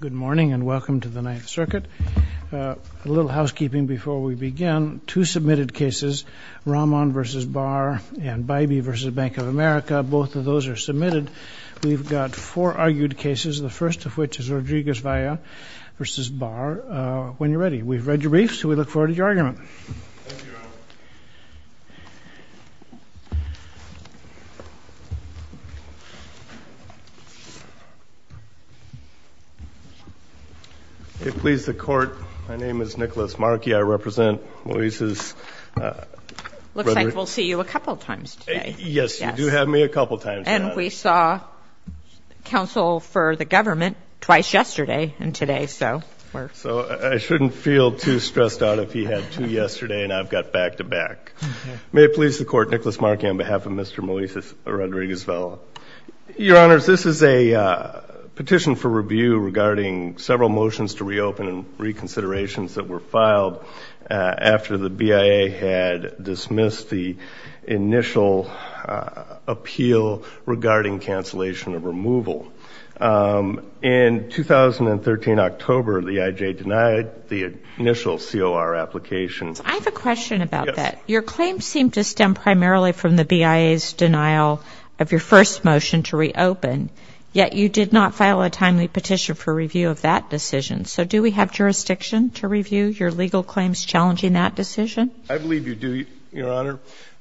Good morning and welcome to the Ninth Circuit. A little housekeeping before we begin, two submitted cases, Rahman v. Barr and Bybee v. Bank of America, both of those are submitted. We've got four argued cases, the first of which is Rodriguez-Valla v. Barr. When you're ready. We've read your briefs, so we look forward to your argument. Thank you, Your Honor. Nicholas Markey May it please the Court, my name is Nicholas Markey. I represent Moises Rodriguez-Valla. Looks like we'll see you a couple times today. Yes, you do have me a couple times. And we saw counsel for the government twice yesterday and today. So I shouldn't feel too stressed out if he had two yesterday and I've got back-to-back. May it please the Court, Nicholas Markey on behalf of Mr. Moises Rodriguez-Valla. Your Honors, this is a petition for review regarding several motions to reopen and reconsiderations that were filed after the BIA had dismissed the initial appeal regarding cancellation of removal. In 2013, October, the IJ denied the initial COR application. I have a question about that. Yes. Your claims seem to stem primarily from the BIA's denial of your first motion to reopen, yet you did not file a timely petition for review of that decision. So do we have jurisdiction to review your legal claims challenging that decision? I believe you do, Your Honor.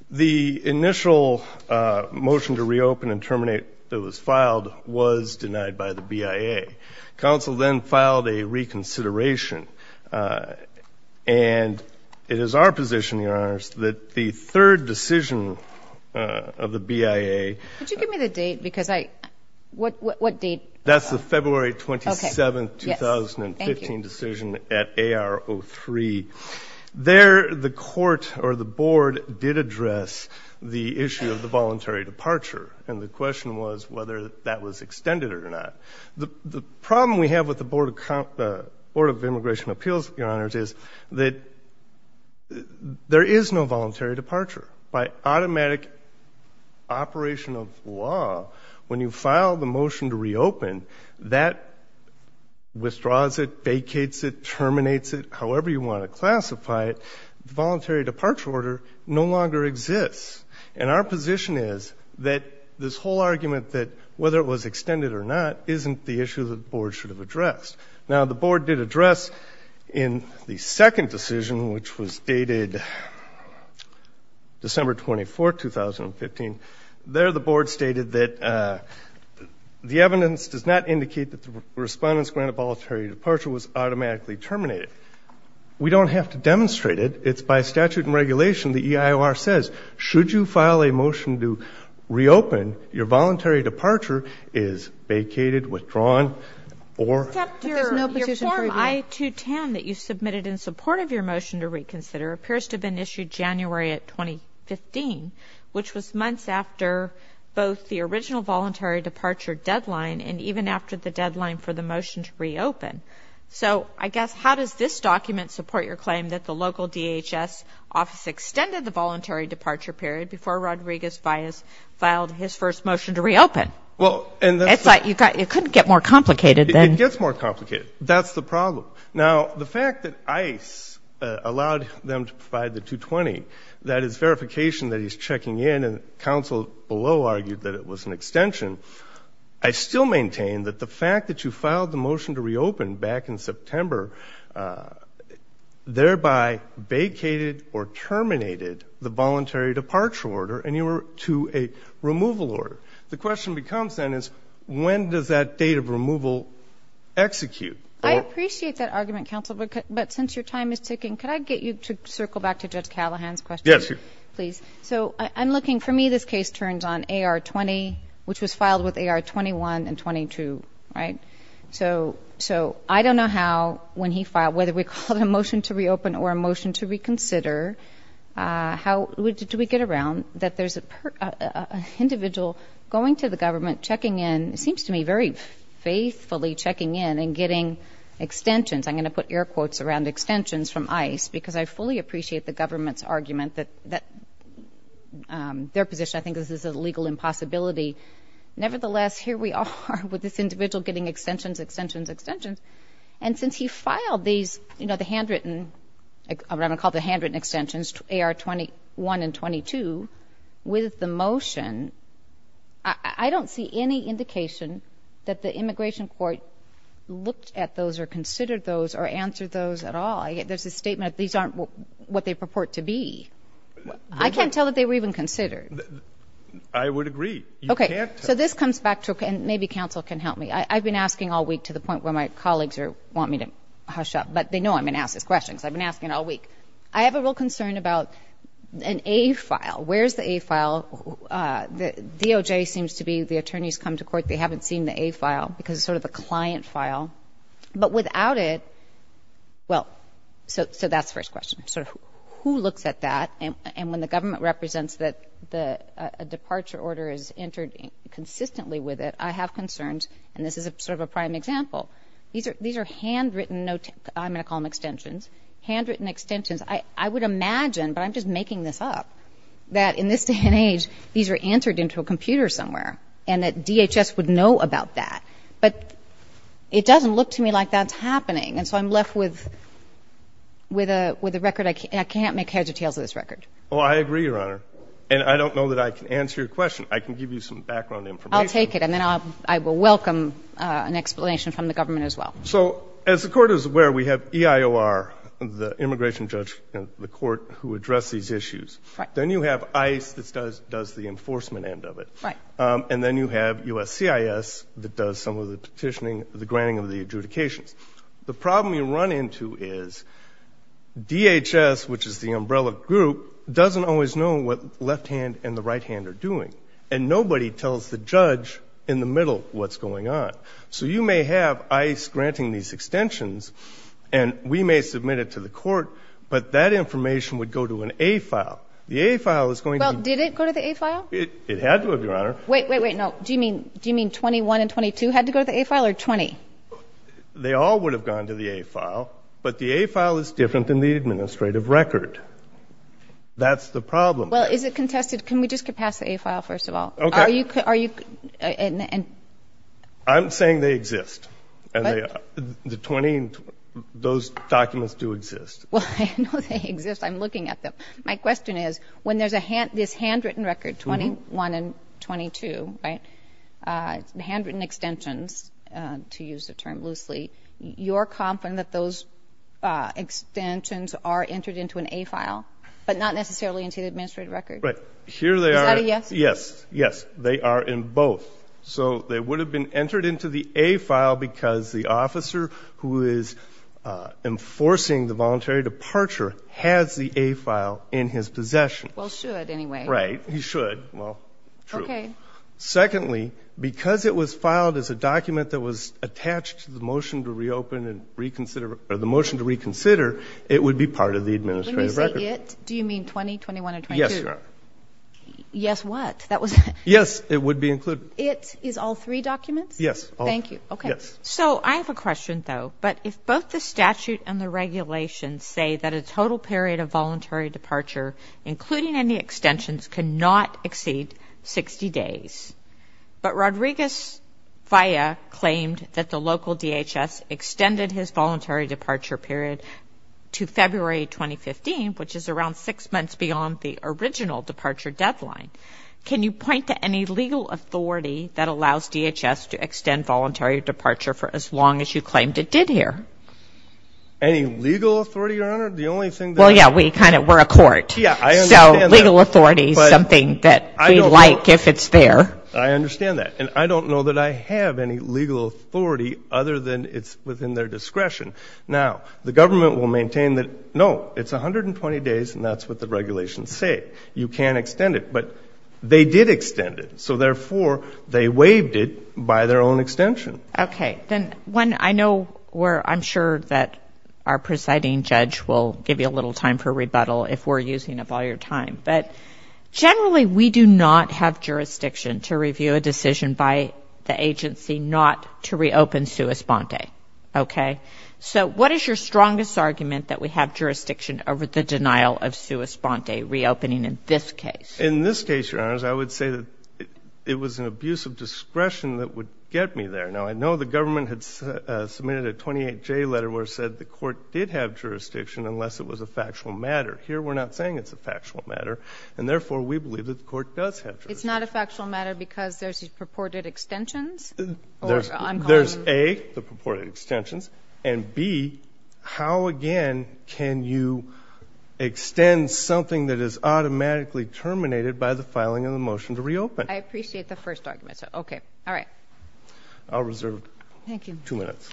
The initial motion to reopen and terminate that was filed was denied by the BIA. Counsel then filed a reconsideration. And it is our position, Your Honors, that the third decision of the BIA. Could you give me the date? Because I – what date? That's the February 27, 2015 decision at AR-03. There, the Court or the Board did address the issue of the voluntary departure. And the question was whether that was extended or not. The problem we have with the Board of Immigration Appeals, Your Honors, is that there is no voluntary departure. By automatic operation of law, when you file the motion to reopen, that withdraws it, vacates it, terminates it, however you want to classify it. The voluntary departure order no longer exists. And our position is that this whole argument that whether it was extended or not isn't the issue that the Board should have addressed. Now, the Board did address in the second decision, which was dated December 24, 2015. There, the Board stated that the evidence does not indicate that the respondent's grant of voluntary departure was automatically terminated. We don't have to demonstrate it. It's by statute and regulation, the EIOR says, should you file a motion to reopen, your voluntary departure is vacated, withdrawn, or – Except your form I-210 that you submitted in support of your motion to reconsider appears to have been issued January of 2015, which was months after both the original voluntary departure deadline and even after the deadline for the motion to reopen. So, I guess, how does this document support your claim that the local DHS office extended the voluntary departure period before Rodriguez-Vias filed his first motion to reopen? It couldn't get more complicated than – It gets more complicated. That's the problem. Now, the fact that ICE allowed them to provide the 220, that is verification that he's checking in and counsel below argued that it was an extension, I still maintain that the fact that you filed the motion to reopen back in September thereby vacated or terminated the voluntary departure order and you were to a removal order. The question becomes then is when does that date of removal execute? I appreciate that argument, counsel, but since your time is ticking, could I get you to circle back to Judge Callahan's question? Yes, please. So, I'm looking – for me, this case turns on AR-20, which was filed with AR-21 and 22, right? So, I don't know how when he filed, whether we called a motion to reopen or a motion to reconsider, how did we get around that there's an individual going to the government, checking in, it seems to me very faithfully checking in and getting extensions. I'm going to put air quotes around extensions from ICE because I fully appreciate the government's argument that their position, I think this is a legal impossibility. Nevertheless, here we are with this individual getting extensions, extensions, extensions. And since he filed these, you know, the handwritten – what I'm going to call the handwritten extensions, AR-21 and 22, with the motion, I don't see any indication that the immigration court looked at those or considered those or answered those at all. There's a statement that these aren't what they purport to be. I can't tell that they were even considered. I would agree. You can't tell. Okay, so this comes back to – and maybe counsel can help me. I've been asking all week to the point where my colleagues want me to hush up, but they know I've been asking questions. I've been asking all week. I have a real concern about an A file. Where's the A file? DOJ seems to be – the attorneys come to court, they haven't seen the A file because it's sort of a client file. But without it – well, so that's the first question. So who looks at that? And when the government represents that a departure order is entered consistently with it, I have concerns. And this is sort of a prime example. These are handwritten – I'm going to call them extensions. Handwritten extensions. I would imagine, but I'm just making this up, that in this day and age, these are entered into a computer somewhere and that DHS would know about that. But it doesn't look to me like that's happening. And so I'm left with a record. I can't make heads or tails of this record. Oh, I agree, Your Honor. And I don't know that I can answer your question. I can give you some background information. I'll take it, and then I will welcome an explanation from the government as well. So as the Court is aware, we have EIOR, the immigration judge in the court, who address these issues. Right. Then you have ICE that does the enforcement end of it. Right. And then you have USCIS that does some of the petitioning, the granting of the adjudications. The problem you run into is DHS, which is the umbrella group, doesn't always know what the left hand and the right hand are doing. And nobody tells the judge in the middle what's going on. So you may have ICE granting these extensions, and we may submit it to the court, but that information would go to an A file. The A file is going to be – It had to have, Your Honor. Wait, wait, wait, no. Do you mean 21 and 22 had to go to the A file, or 20? They all would have gone to the A file, but the A file is different than the administrative record. That's the problem. Well, is it contested? Can we just pass the A file first of all? Okay. Are you – I'm saying they exist. What? The 20, those documents do exist. Well, I know they exist. I'm looking at them. My question is, when there's this handwritten record, 21 and 22, right, handwritten extensions, to use the term loosely, you're confident that those extensions are entered into an A file, but not necessarily into the administrative record? Right. Here they are. Is that a yes? Yes, yes. They are in both. So they would have been entered into the A file because the officer who is enforcing the voluntary departure has the A file in his possession. Well, should anyway. Right. He should. Well, true. Okay. Secondly, because it was filed as a document that was attached to the motion to reopen and reconsider, or the motion to reconsider, it would be part of the administrative record. Let me say it. Do you mean 20, 21, or 22? Yes, Your Honor. Yes, what? Yes, it would be included. It is all three documents? Yes. Thank you. Okay. Yes. So I have a question, though. But if both the statute and the regulations say that a total period of voluntary departure, including any extensions, cannot exceed 60 days, but Rodriguez-Faya claimed that the local DHS extended his voluntary departure period to February 2015, which is around six months beyond the original departure deadline, can you point to any legal authority that allows DHS to extend voluntary departure for as long as you claimed it did here? Any legal authority, Your Honor? The only thing that I know of. Well, yeah, we're a court. Yeah, I understand that. So legal authority is something that we like if it's there. I understand that. And I don't know that I have any legal authority other than it's within their discretion. Now, the government will maintain that, no, it's 120 days, and that's what the regulations say. You can't extend it. But they did extend it. So, therefore, they waived it by their own extension. Okay. Then, one, I know where I'm sure that our presiding judge will give you a little time for rebuttal if we're using up all your time, but generally we do not have jurisdiction to review a decision by the agency not to reopen Sue Esponte. Okay? Okay. So what is your strongest argument that we have jurisdiction over the denial of Sue Esponte reopening in this case? In this case, Your Honors, I would say that it was an abuse of discretion that would get me there. Now, I know the government had submitted a 28J letter where it said the court did have jurisdiction unless it was a factual matter. Here we're not saying it's a factual matter, and, therefore, we believe that the court does have jurisdiction. It's not a factual matter because there's purported extensions? There's A, the purported extensions, and B, how, again, can you extend something that is automatically terminated by the filing of the motion to reopen? I appreciate the first argument. Okay. All right. I'll reserve two minutes.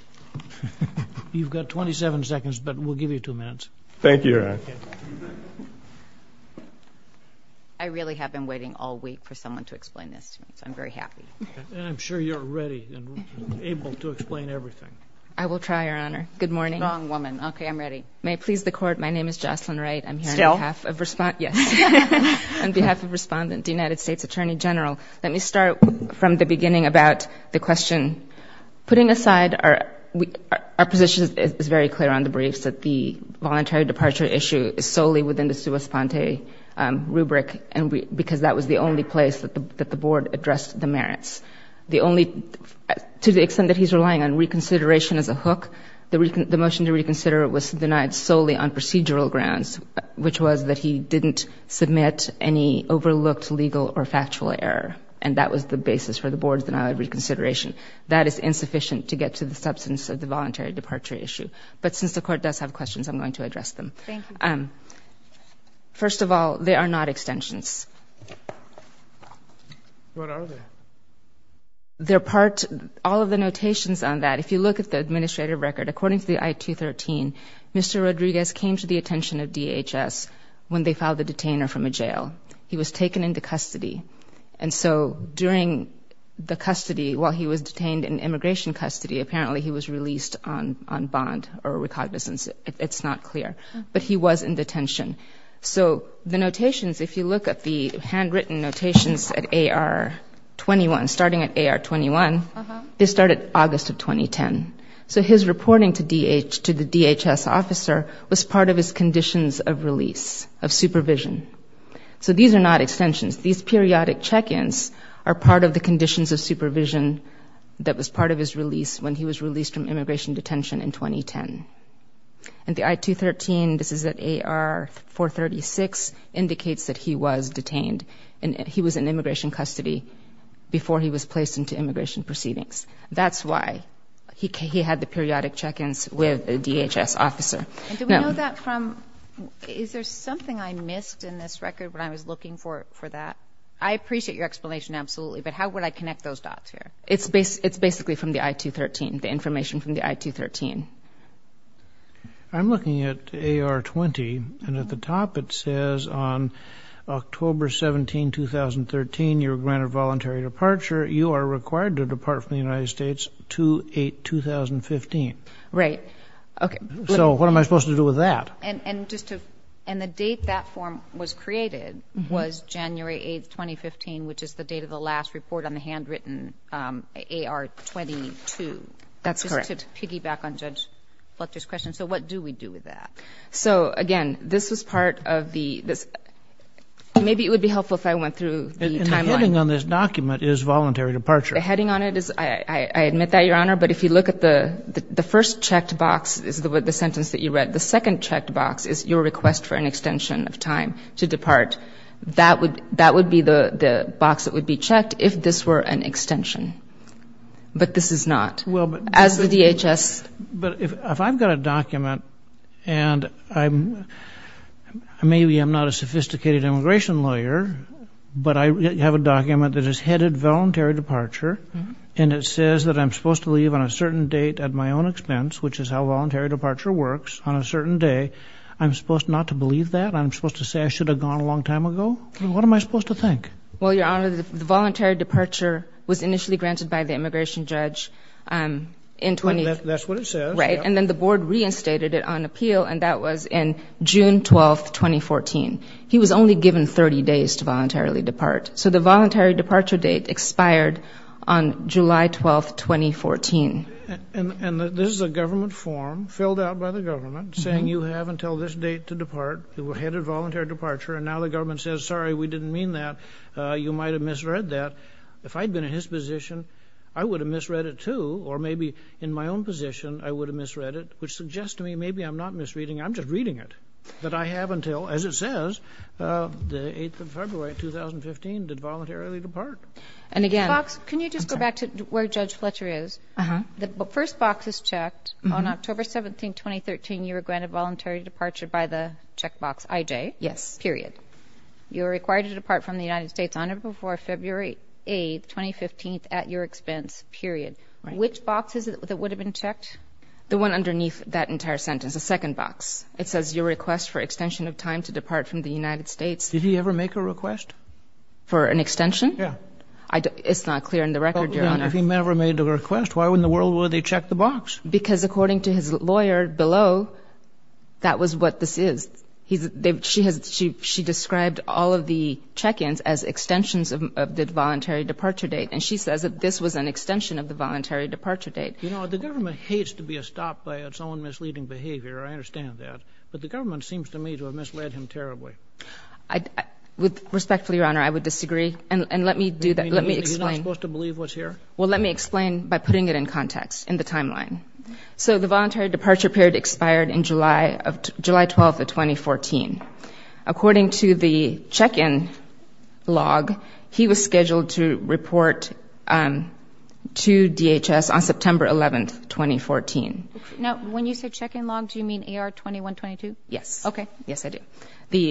You've got 27 seconds, but we'll give you two minutes. Thank you, Your Honor. I really have been waiting all week for someone to explain this to me, so I'm very happy. And I'm sure you're ready and able to explain everything. I will try, Your Honor. Good morning. Strong woman. Okay, I'm ready. May it please the Court, my name is Jocelyn Wright. Still? Yes. On behalf of Respondent, the United States Attorney General, let me start from the beginning about the question. Putting aside our position is very clear on the briefs that the voluntary departure issue is solely within the Sue Esponte rubric because that was the only place that the Board addressed the merits. To the extent that he's relying on reconsideration as a hook, the motion to reconsider was denied solely on procedural grounds, which was that he didn't submit any overlooked legal or factual error. And that was the basis for the Board's denial of reconsideration. That is insufficient to get to the substance of the voluntary departure issue. But since the Court does have questions, I'm going to address them. Thank you. First of all, they are not extensions. What are they? They're part of all of the notations on that. If you look at the administrative record, according to the I-213, Mr. Rodriguez came to the attention of DHS when they filed the detainer from a jail. He was taken into custody. And so during the custody, while he was detained in immigration custody, apparently he was released on bond or recognizance. It's not clear. But he was in detention. So the notations, if you look at the handwritten notations at AR-21, starting at AR-21, they start at August of 2010. So his reporting to the DHS officer was part of his conditions of release, of supervision. So these are not extensions. These periodic check-ins are part of the conditions of supervision that was part of his release when he was released from immigration detention in 2010. And the I-213, this is at AR-436, indicates that he was detained. He was in immigration custody before he was placed into immigration proceedings. That's why he had the periodic check-ins with a DHS officer. Do we know that from ñ is there something I missed in this record when I was looking for that? I appreciate your explanation absolutely, but how would I connect those dots here? It's basically from the I-213, the information from the I-213. I'm looking at AR-20, and at the top it says on October 17, 2013, you were granted voluntary departure. You are required to depart from the United States to 8-2015. Right. So what am I supposed to do with that? And the date that form was created was January 8, 2015, which is the date of the last report on the handwritten AR-22. That's correct. Just to piggyback on Judge Fletcher's question, so what do we do with that? So, again, this was part of the ñ maybe it would be helpful if I went through the timeline. And the heading on this document is voluntary departure. The heading on it is ñ I admit that, Your Honor, but if you look at the first checked box is the sentence that you read. The second checked box is your request for an extension of time to depart. That would be the box that would be checked if this were an extension. But this is not. Well, but ñ As the DHS ñ But if I've got a document, and maybe I'm not a sophisticated immigration lawyer, but I have a document that is headed voluntary departure, and it says that I'm supposed to leave on a certain date at my own expense, which is how voluntary departure works, on a certain day, I'm supposed not to believe that? I'm supposed to say I should have gone a long time ago? What am I supposed to think? Well, Your Honor, the voluntary departure was initially granted by the immigration judge in ñ That's what it says. Right. And then the board reinstated it on appeal, and that was in June 12, 2014. He was only given 30 days to voluntarily depart. So the voluntary departure date expired on July 12, 2014. And this is a government form, filled out by the government, saying you have until this date to depart. You were headed voluntary departure. And now the government says, sorry, we didn't mean that. You might have misread that. If I'd been in his position, I would have misread it too. Or maybe in my own position, I would have misread it, which suggests to me maybe I'm not misreading it. I'm just reading it. But I have until, as it says, the 8th of February, 2015, to voluntarily depart. And again ñ Box, can you just go back to where Judge Fletcher is? Uh-huh. The first box is checked. On October 17, 2013, you were granted voluntary departure by the checkbox IJ. Yes. Period. You were required to depart from the United States on or before February 8, 2015, at your expense. Period. Which box is it that would have been checked? The one underneath that entire sentence, the second box. It says your request for extension of time to depart from the United States. For an extension? Yeah. It's not clear in the record, Your Honor. If he never made a request, why in the world would they check the box? Because according to his lawyer below, that was what this is. She described all of the check-ins as extensions of the voluntary departure date. And she says that this was an extension of the voluntary departure date. You know, the government hates to be stopped by its own misleading behavior. I understand that. But the government seems to me to have misled him terribly. With respect, Your Honor, I would disagree. And let me do that. Let me explain. He's not supposed to believe what's here? Well, let me explain by putting it in context, in the timeline. So the voluntary departure period expired on July 12, 2014. According to the check-in log, he was scheduled to report to DHS on September 11, 2014. Now, when you say check-in log, do you mean AR-2122? Yes. Okay. Yes, I do.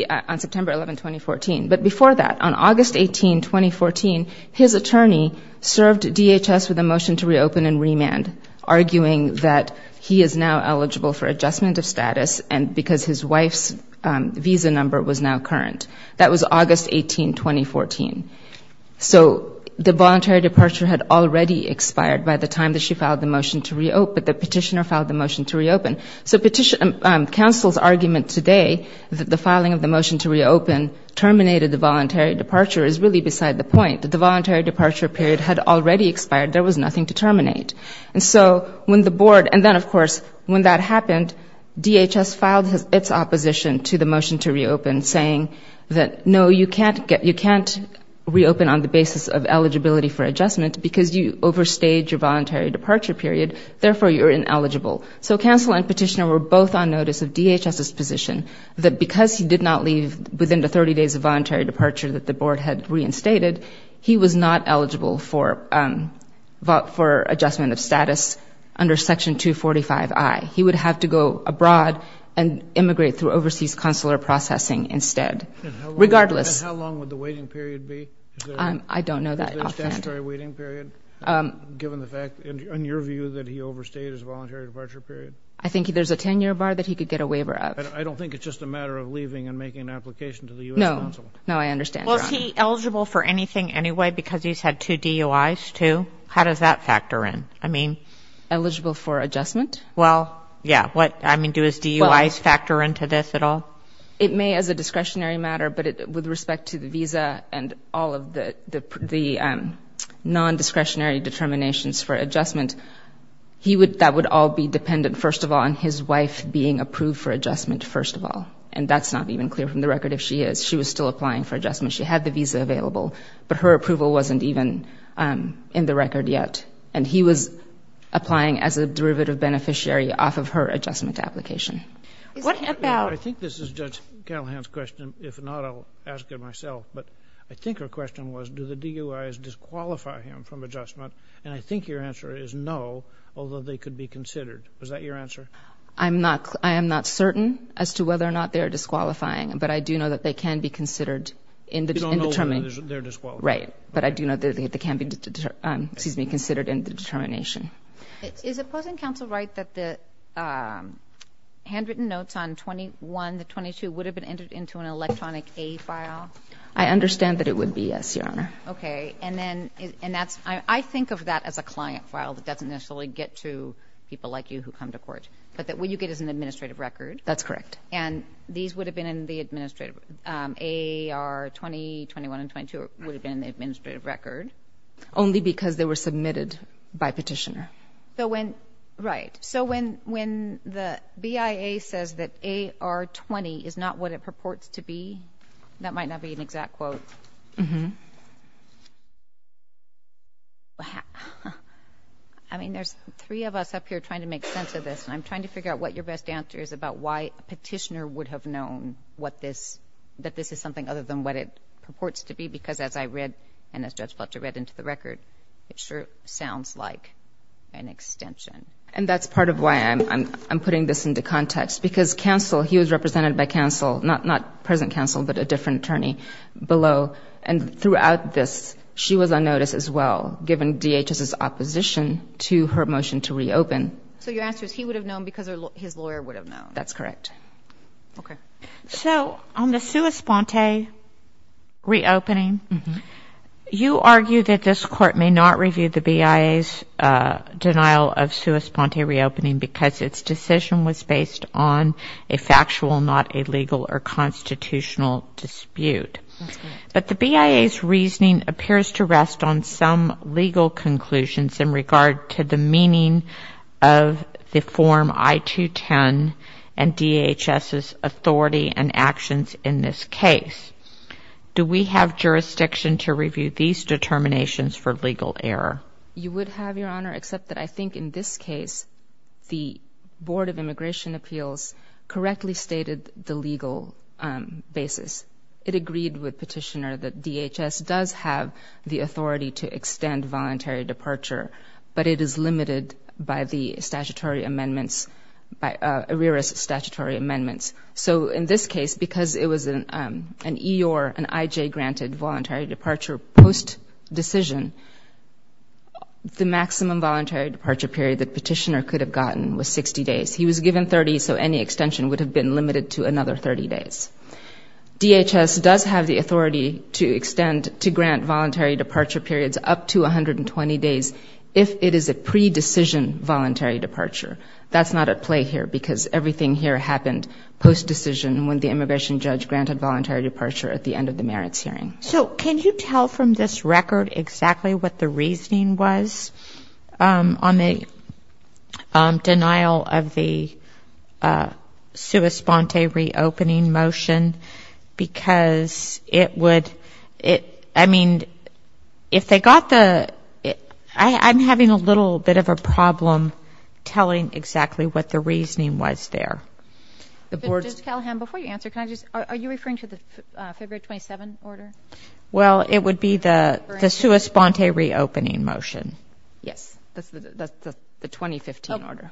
On September 11, 2014. But before that, on August 18, 2014, his attorney served DHS with a motion to reopen and remand, arguing that he is now eligible for adjustment of status and because his wife's visa number was now current. That was August 18, 2014. So the voluntary departure had already expired by the time that she filed the motion to reopen, but the petitioner filed the motion to reopen. So counsel's argument today that the filing of the motion to reopen terminated the voluntary departure is really beside the point. The voluntary departure period had already expired. There was nothing to terminate. And so when the board, and then, of course, when that happened, DHS filed its opposition to the motion to reopen, saying that, no, you can't reopen on the basis of eligibility for adjustment because you overstayed your voluntary departure period. Therefore, you're ineligible. So counsel and petitioner were both on notice of DHS's position that because he did not leave within the 30 days of voluntary departure that the board had reinstated, he was not eligible for adjustment of status under Section 245I. He would have to go abroad and immigrate through overseas consular processing instead. Regardless. And how long would the waiting period be? I don't know that offhand. Is there a statutory waiting period? Given the fact, in your view, that he overstayed his voluntary departure period? I think there's a 10-year bar that he could get a waiver of. I don't think it's just a matter of leaving and making an application to the U.S. consul. No, I understand, Your Honor. Well, is he eligible for anything anyway because he's had two DUIs, too? How does that factor in? I mean. Eligible for adjustment? Well, yeah. What, I mean, do his DUIs factor into this at all? It may as a discretionary matter, but with respect to the visa and all of the non-discretionary determinations for adjustment, that would all be dependent, first of all, on his wife being approved for adjustment, first of all. And that's not even clear from the record if she is. She was still applying for adjustment. She had the visa available, but her approval wasn't even in the record yet. And he was applying as a derivative beneficiary off of her adjustment application. What about... Well, that's Cattlehand's question. If not, I'll ask it myself. But I think her question was, do the DUIs disqualify him from adjustment? And I think your answer is no, although they could be considered. Was that your answer? I'm not... I am not certain as to whether or not they are disqualifying, but I do know that they can be considered in determining... You don't know whether they're disqualifying. Right. But I do know that they can be considered in the determination. Is opposing counsel right that the handwritten notes on 21, the 22, would have been entered into an electronic A file? I understand that it would be, yes, Your Honor. Okay. And then, and that's... I think of that as a client file that doesn't necessarily get to people like you who come to court. But what you get is an administrative record. That's correct. And these would have been in the administrative... A, R, 20, 21, and 22 would have been in the administrative record. Only because they were submitted by petitioner. So when... Right. So when the BIA says that A, R, 20 is not what it purports to be, that might not be an exact quote. Uh-huh. I mean, there's three of us up here trying to make sense of this. And I'm trying to figure out what your best answer is about why a petitioner would have known what this... It sure sounds like an extension. And that's part of why I'm putting this into context. Because counsel, he was represented by counsel. Not present counsel, but a different attorney below. And throughout this, she was on notice as well, given DHS's opposition to her motion to reopen. So your answer is he would have known because his lawyer would have known. That's correct. Okay. So on the sua sponte reopening... Uh-huh. You argue that this Court may not review the BIA's denial of sua sponte reopening because its decision was based on a factual, not a legal or constitutional dispute. That's correct. But the BIA's reasoning appears to rest on some legal conclusions in regard to the meaning of the Form I-210 and DHS's authority and actions in this case. Do we have jurisdiction to review these determinations for legal error? You would have, Your Honor, except that I think in this case, the Board of Immigration Appeals correctly stated the legal basis. It agreed with Petitioner that DHS does have the authority to extend voluntary departure, but it is limited by the statutory amendments, by ARERA's statutory amendments. So in this case, because it was an EOR, an IJ-granted voluntary departure post-decision, the maximum voluntary departure period that Petitioner could have gotten was 60 days. He was given 30, so any extension would have been limited to another 30 days. DHS does have the authority to extend, to grant voluntary departure periods up to 120 days if it is a pre-decision voluntary departure. That's not at play here because everything here happened post-decision when the immigration judge granted voluntary departure at the end of the merits hearing. So can you tell from this record exactly what the reasoning was on the denial of the sua sponte reopening motion? Because it would, I mean, if they got the, I'm having a little bit of a problem telling exactly what the reasoning was there. Ms. Callahan, before you answer, can I just, are you referring to the February 27 order? Well, it would be the sua sponte reopening motion. Yes, that's the 2015 order.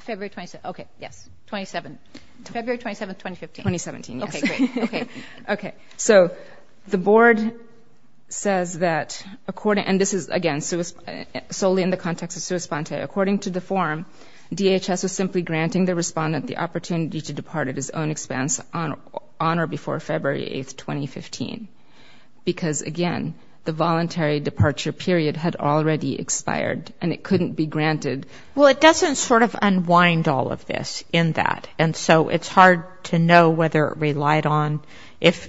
February 27, okay, yes, 27, February 27, 2015. 2017, yes. Okay, great, okay. Okay, so the board says that according, and this is, again, solely in the context of sua sponte, according to the form, DHS was simply granting the respondent the opportunity to depart at his own expense on or before February 8, 2015, because, again, the voluntary departure period had already expired and it couldn't be granted. Well, it doesn't sort of unwind all of this in that, and so it's hard to know whether it relied on, if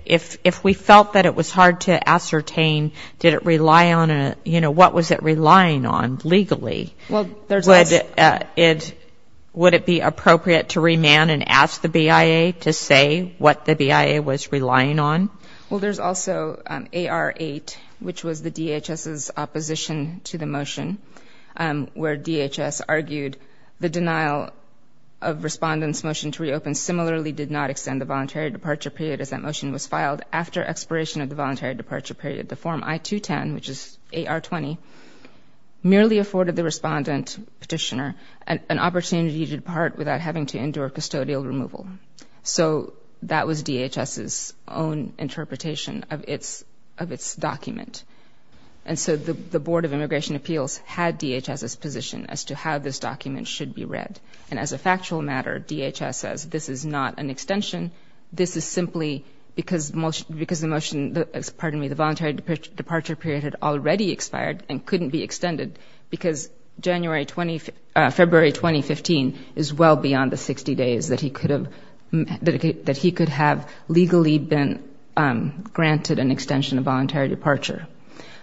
we felt that it was hard to ascertain, did it rely on a, you know, what was it relying on legally? Would it be appropriate to remand and ask the BIA to say what the BIA was relying on? Well, there's also AR8, which was the DHS's opposition to the motion, where DHS argued the denial of respondent's motion to reopen similarly did not extend the voluntary departure period as that motion was filed after expiration of the voluntary departure period. The form I-210, which is AR20, merely afforded the respondent, petitioner, an opportunity to depart without having to endure custodial removal. So that was DHS's own interpretation of its document. And so the Board of Immigration Appeals had DHS's position as to how this document should be read. And as a factual matter, DHS says this is not an extension. This is simply because the motion, pardon me, the voluntary departure period had already expired and couldn't be extended because February 2015 is well beyond the 60 days that he could have legally been granted an extension of voluntary departure.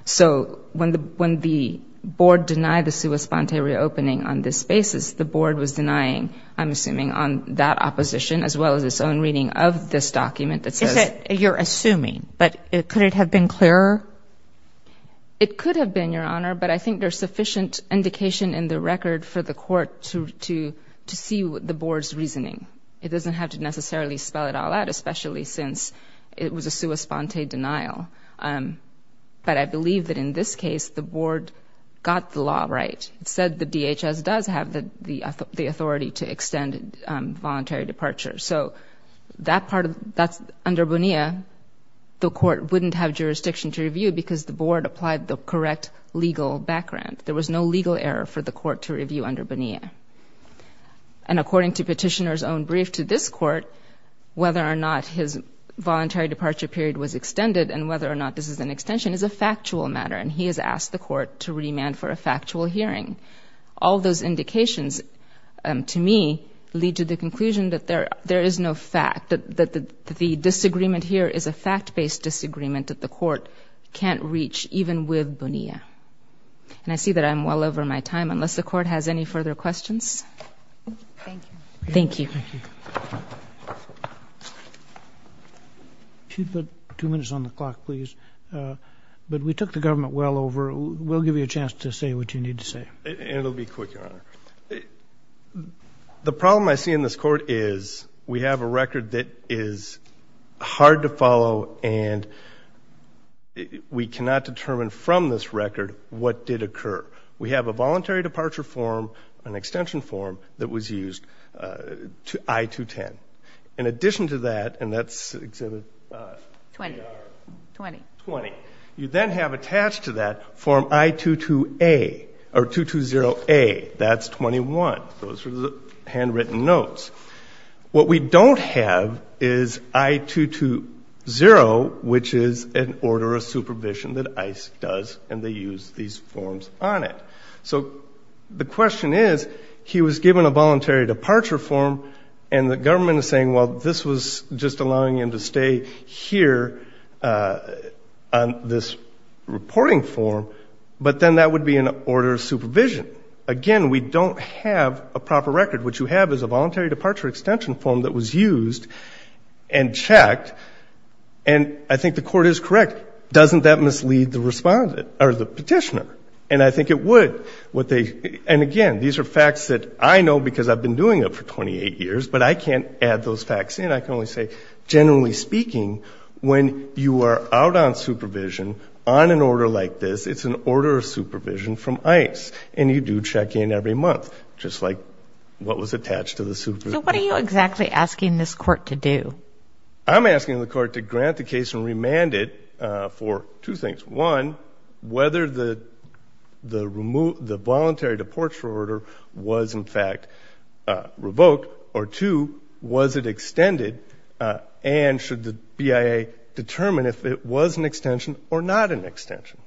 So when the board denied the sua sponte reopening on this basis, the board was denying, I'm assuming, on that opposition as well as its own reading of this document that says- You're assuming, but could it have been clearer? It could have been, Your Honor, but I think there's sufficient indication in the record for the court to see the board's reasoning. It doesn't have to necessarily spell it all out, especially since it was a sua sponte denial. But I believe that in this case the board got the law right. It said the DHS does have the authority to extend voluntary departure. So under Bonilla, the court wouldn't have jurisdiction to review because the board applied the correct legal background. There was no legal error for the court to review under Bonilla. And according to Petitioner's own brief to this court, whether or not his voluntary departure period was extended and whether or not this is an extension is a factual matter, and he has asked the court to remand for a factual hearing. All those indications, to me, lead to the conclusion that there is no fact, that the disagreement here is a fact-based disagreement that the court can't reach even with Bonilla. And I see that I'm well over my time. Unless the court has any further questions? Thank you. If you'd put two minutes on the clock, please. But we took the government well over. We'll give you a chance to say what you need to say. It will be quick, Your Honor. The problem I see in this court is we have a record that is hard to follow and we cannot determine from this record what did occur. We have a voluntary departure form, an extension form, that was used, I-210. In addition to that, and that's Exhibit A-R-20, you then have attached to that Form I-220A. That's 21. Those are the handwritten notes. What we don't have is I-220, which is an order of supervision that ICE does, and they use these forms on it. So the question is, he was given a voluntary departure form and the government is saying, well, this was just allowing him to stay here on this reporting form, but then that would be an order of supervision. Again, we don't have a proper record. What you have is a voluntary departure extension form that was used and checked, and I think the court is correct. Doesn't that mislead the petitioner? And I think it would. And, again, these are facts that I know because I've been doing it for 28 years, but I can't add those facts in. I can only say, generally speaking, when you are out on supervision on an order like this, it's an order of supervision from ICE, and you do check in every month, just like what was attached to the supervision. So what are you exactly asking this court to do? I'm asking the court to grant the case and remand it for two things. One, whether the voluntary departure order was, in fact, revoked, or two, was it extended, and should the BIA determine if it was an extension or not an extension?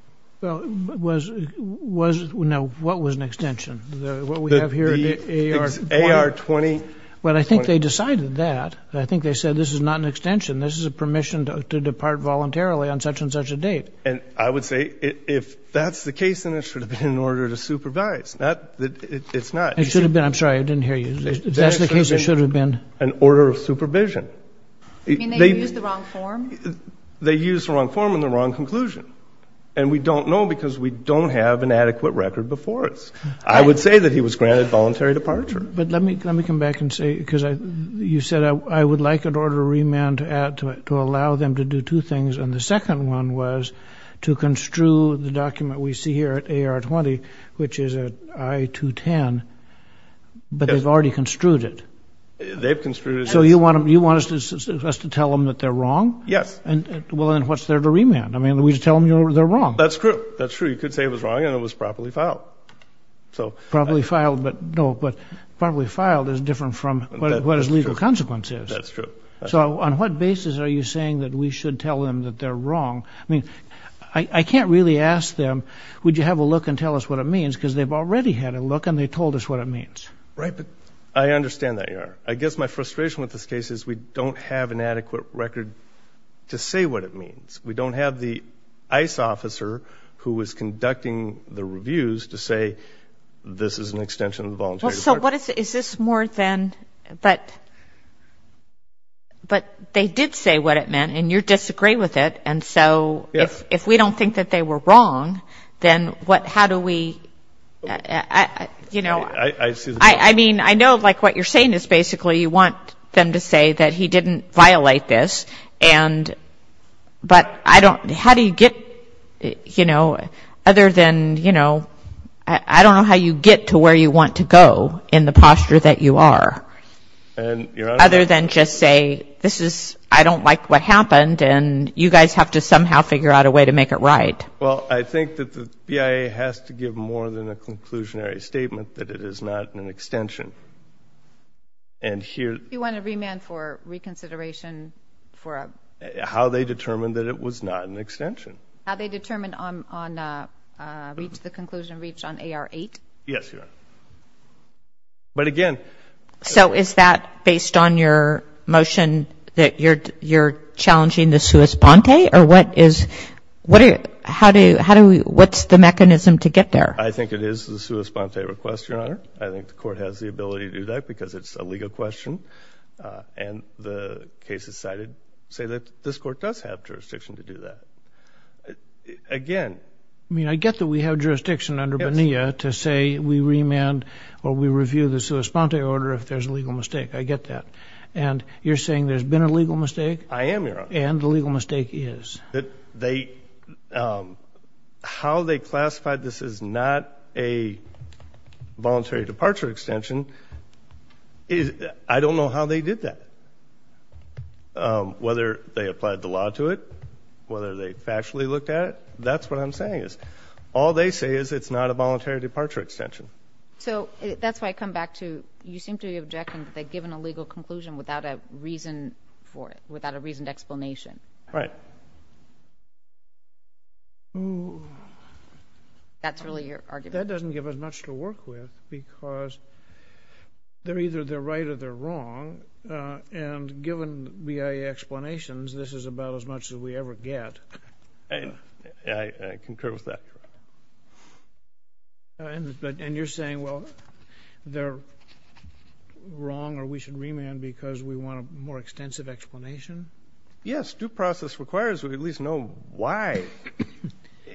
Well, what was an extension, what we have here? The AR-20. Well, I think they decided that. I think they said this is not an extension. This is a permission to depart voluntarily on such and such a date. And I would say if that's the case, then it should have been an order to supervise. It's not. It should have been. I'm sorry, I didn't hear you. If that's the case, it should have been. An order of supervision. You mean they used the wrong form? They used the wrong form and the wrong conclusion. And we don't know because we don't have an adequate record before us. I would say that he was granted voluntary departure. But let me come back and say, because you said I would like an order of remand to allow them to do two things, and the second one was to construe the document we see here at AR-20, which is at I-210, but they've already construed it. They've construed it. So you want us to tell them that they're wrong? Yes. Well, then what's there to remand? I mean, we just tell them they're wrong. That's true. That's true. You could say it was wrong and it was properly filed. Properly filed is different from what his legal consequence is. That's true. So on what basis are you saying that we should tell them that they're wrong? I mean, I can't really ask them, would you have a look and tell us what it means because they've already had a look and they told us what it means. Right, but I understand that, Your Honor. I guess my frustration with this case is we don't have an adequate record to say what it means. We don't have the ICE officer who was conducting the reviews to say, this is an extension of the voluntary department. Is this more than – but they did say what it meant, and you disagree with it. And so if we don't think that they were wrong, then how do we – I mean, I know like what you're saying is basically you want them to say that he didn't violate this, but I don't – how do you get – you know, other than, you know, I don't know how you get to where you want to go in the posture that you are. And, Your Honor. Other than just say, this is – I don't like what happened and you guys have to somehow figure out a way to make it right. Well, I think that the BIA has to give more than a conclusionary statement that it is not an extension. And here – You want to remand for reconsideration for a – How they determined that it was not an extension. How they determined on – the conclusion reached on AR-8? Yes, Your Honor. But again – So is that based on your motion that you're challenging the sua sponte, or what is – how do we – what's the mechanism to get there? I think it is the sua sponte request, Your Honor. I think the court has the ability to do that because it's a legal question. And the cases cited say that this court does have jurisdiction to do that. Again – I mean, I get that we have jurisdiction under BNEA to say we remand or we review the sua sponte order if there's a legal mistake. I get that. And you're saying there's been a legal mistake? I am, Your Honor. And the legal mistake is? That they – how they classified this as not a voluntary departure extension, I don't know how they did that, whether they applied the law to it, whether they factually looked at it. That's what I'm saying is all they say is it's not a voluntary departure extension. So that's why I come back to you seem to be objecting that they've given a legal conclusion Right. That's really your argument? That doesn't give us much to work with because they're either they're right or they're wrong. And given BIA explanations, this is about as much as we ever get. I concur with that. And you're saying, well, they're wrong or we should remand because we want a more extensive explanation? Yes. Due process requires we at least know why,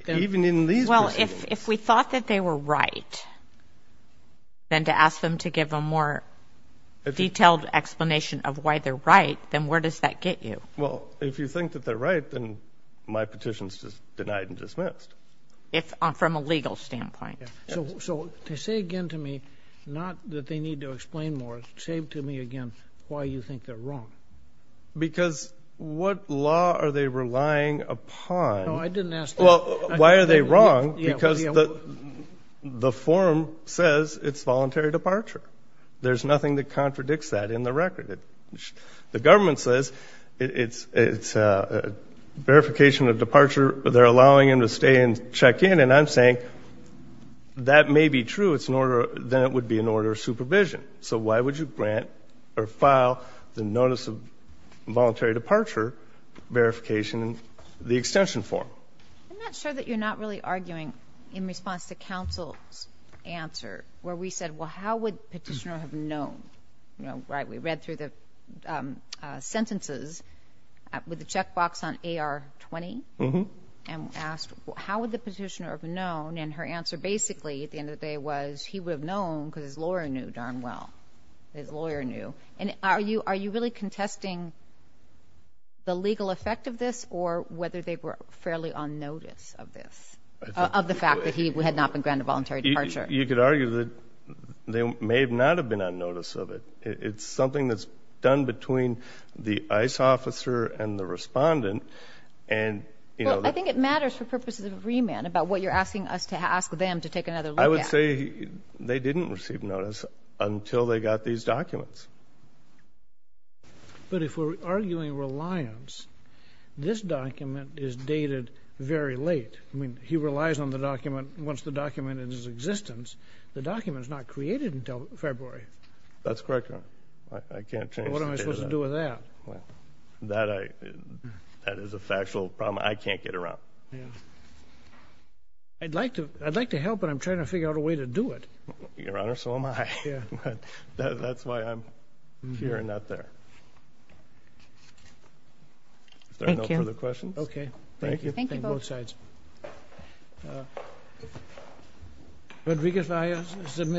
even in these proceedings. Well, if we thought that they were right, then to ask them to give a more detailed explanation of why they're right, then where does that get you? Well, if you think that they're right, then my petition's denied and dismissed. From a legal standpoint. So say again to me not that they need to explain more, say to me again why you think they're wrong. Because what law are they relying upon? No, I didn't ask that. Well, why are they wrong? Because the form says it's voluntary departure. There's nothing that contradicts that in the record. The government says it's verification of departure. They're allowing him to stay and check in. And I'm saying that may be true. Then it would be an order of supervision. So why would you grant or file the notice of voluntary departure verification in the extension form? I'm not sure that you're not really arguing in response to counsel's answer where we said, well, how would the petitioner have known? We read through the sentences with the checkbox on AR-20 and asked how would the petitioner have known? And her answer basically at the end of the day was he would have known because his lawyer knew darn well. His lawyer knew. And are you really contesting the legal effect of this or whether they were fairly on notice of this, of the fact that he had not been granted voluntary departure? You could argue that they may not have been on notice of it. It's something that's done between the ICE officer and the respondent. Well, I think it matters for purposes of remand about what you're asking us to ask them to take another look at. I would say they didn't receive notice until they got these documents. But if we're arguing reliance, this document is dated very late. I mean, he relies on the document once the document is in existence. The document is not created until February. That's correct, Your Honor. I can't change the date of that. What am I supposed to do with that? That is a factual problem. I can't get around. I'd like to help, but I'm trying to figure out a way to do it. Your Honor, so am I. That's why I'm here and not there. Thank you. Are there no further questions? Okay. Thank you. Thank you both. Both sides. Rodriguez-Valle is submitted.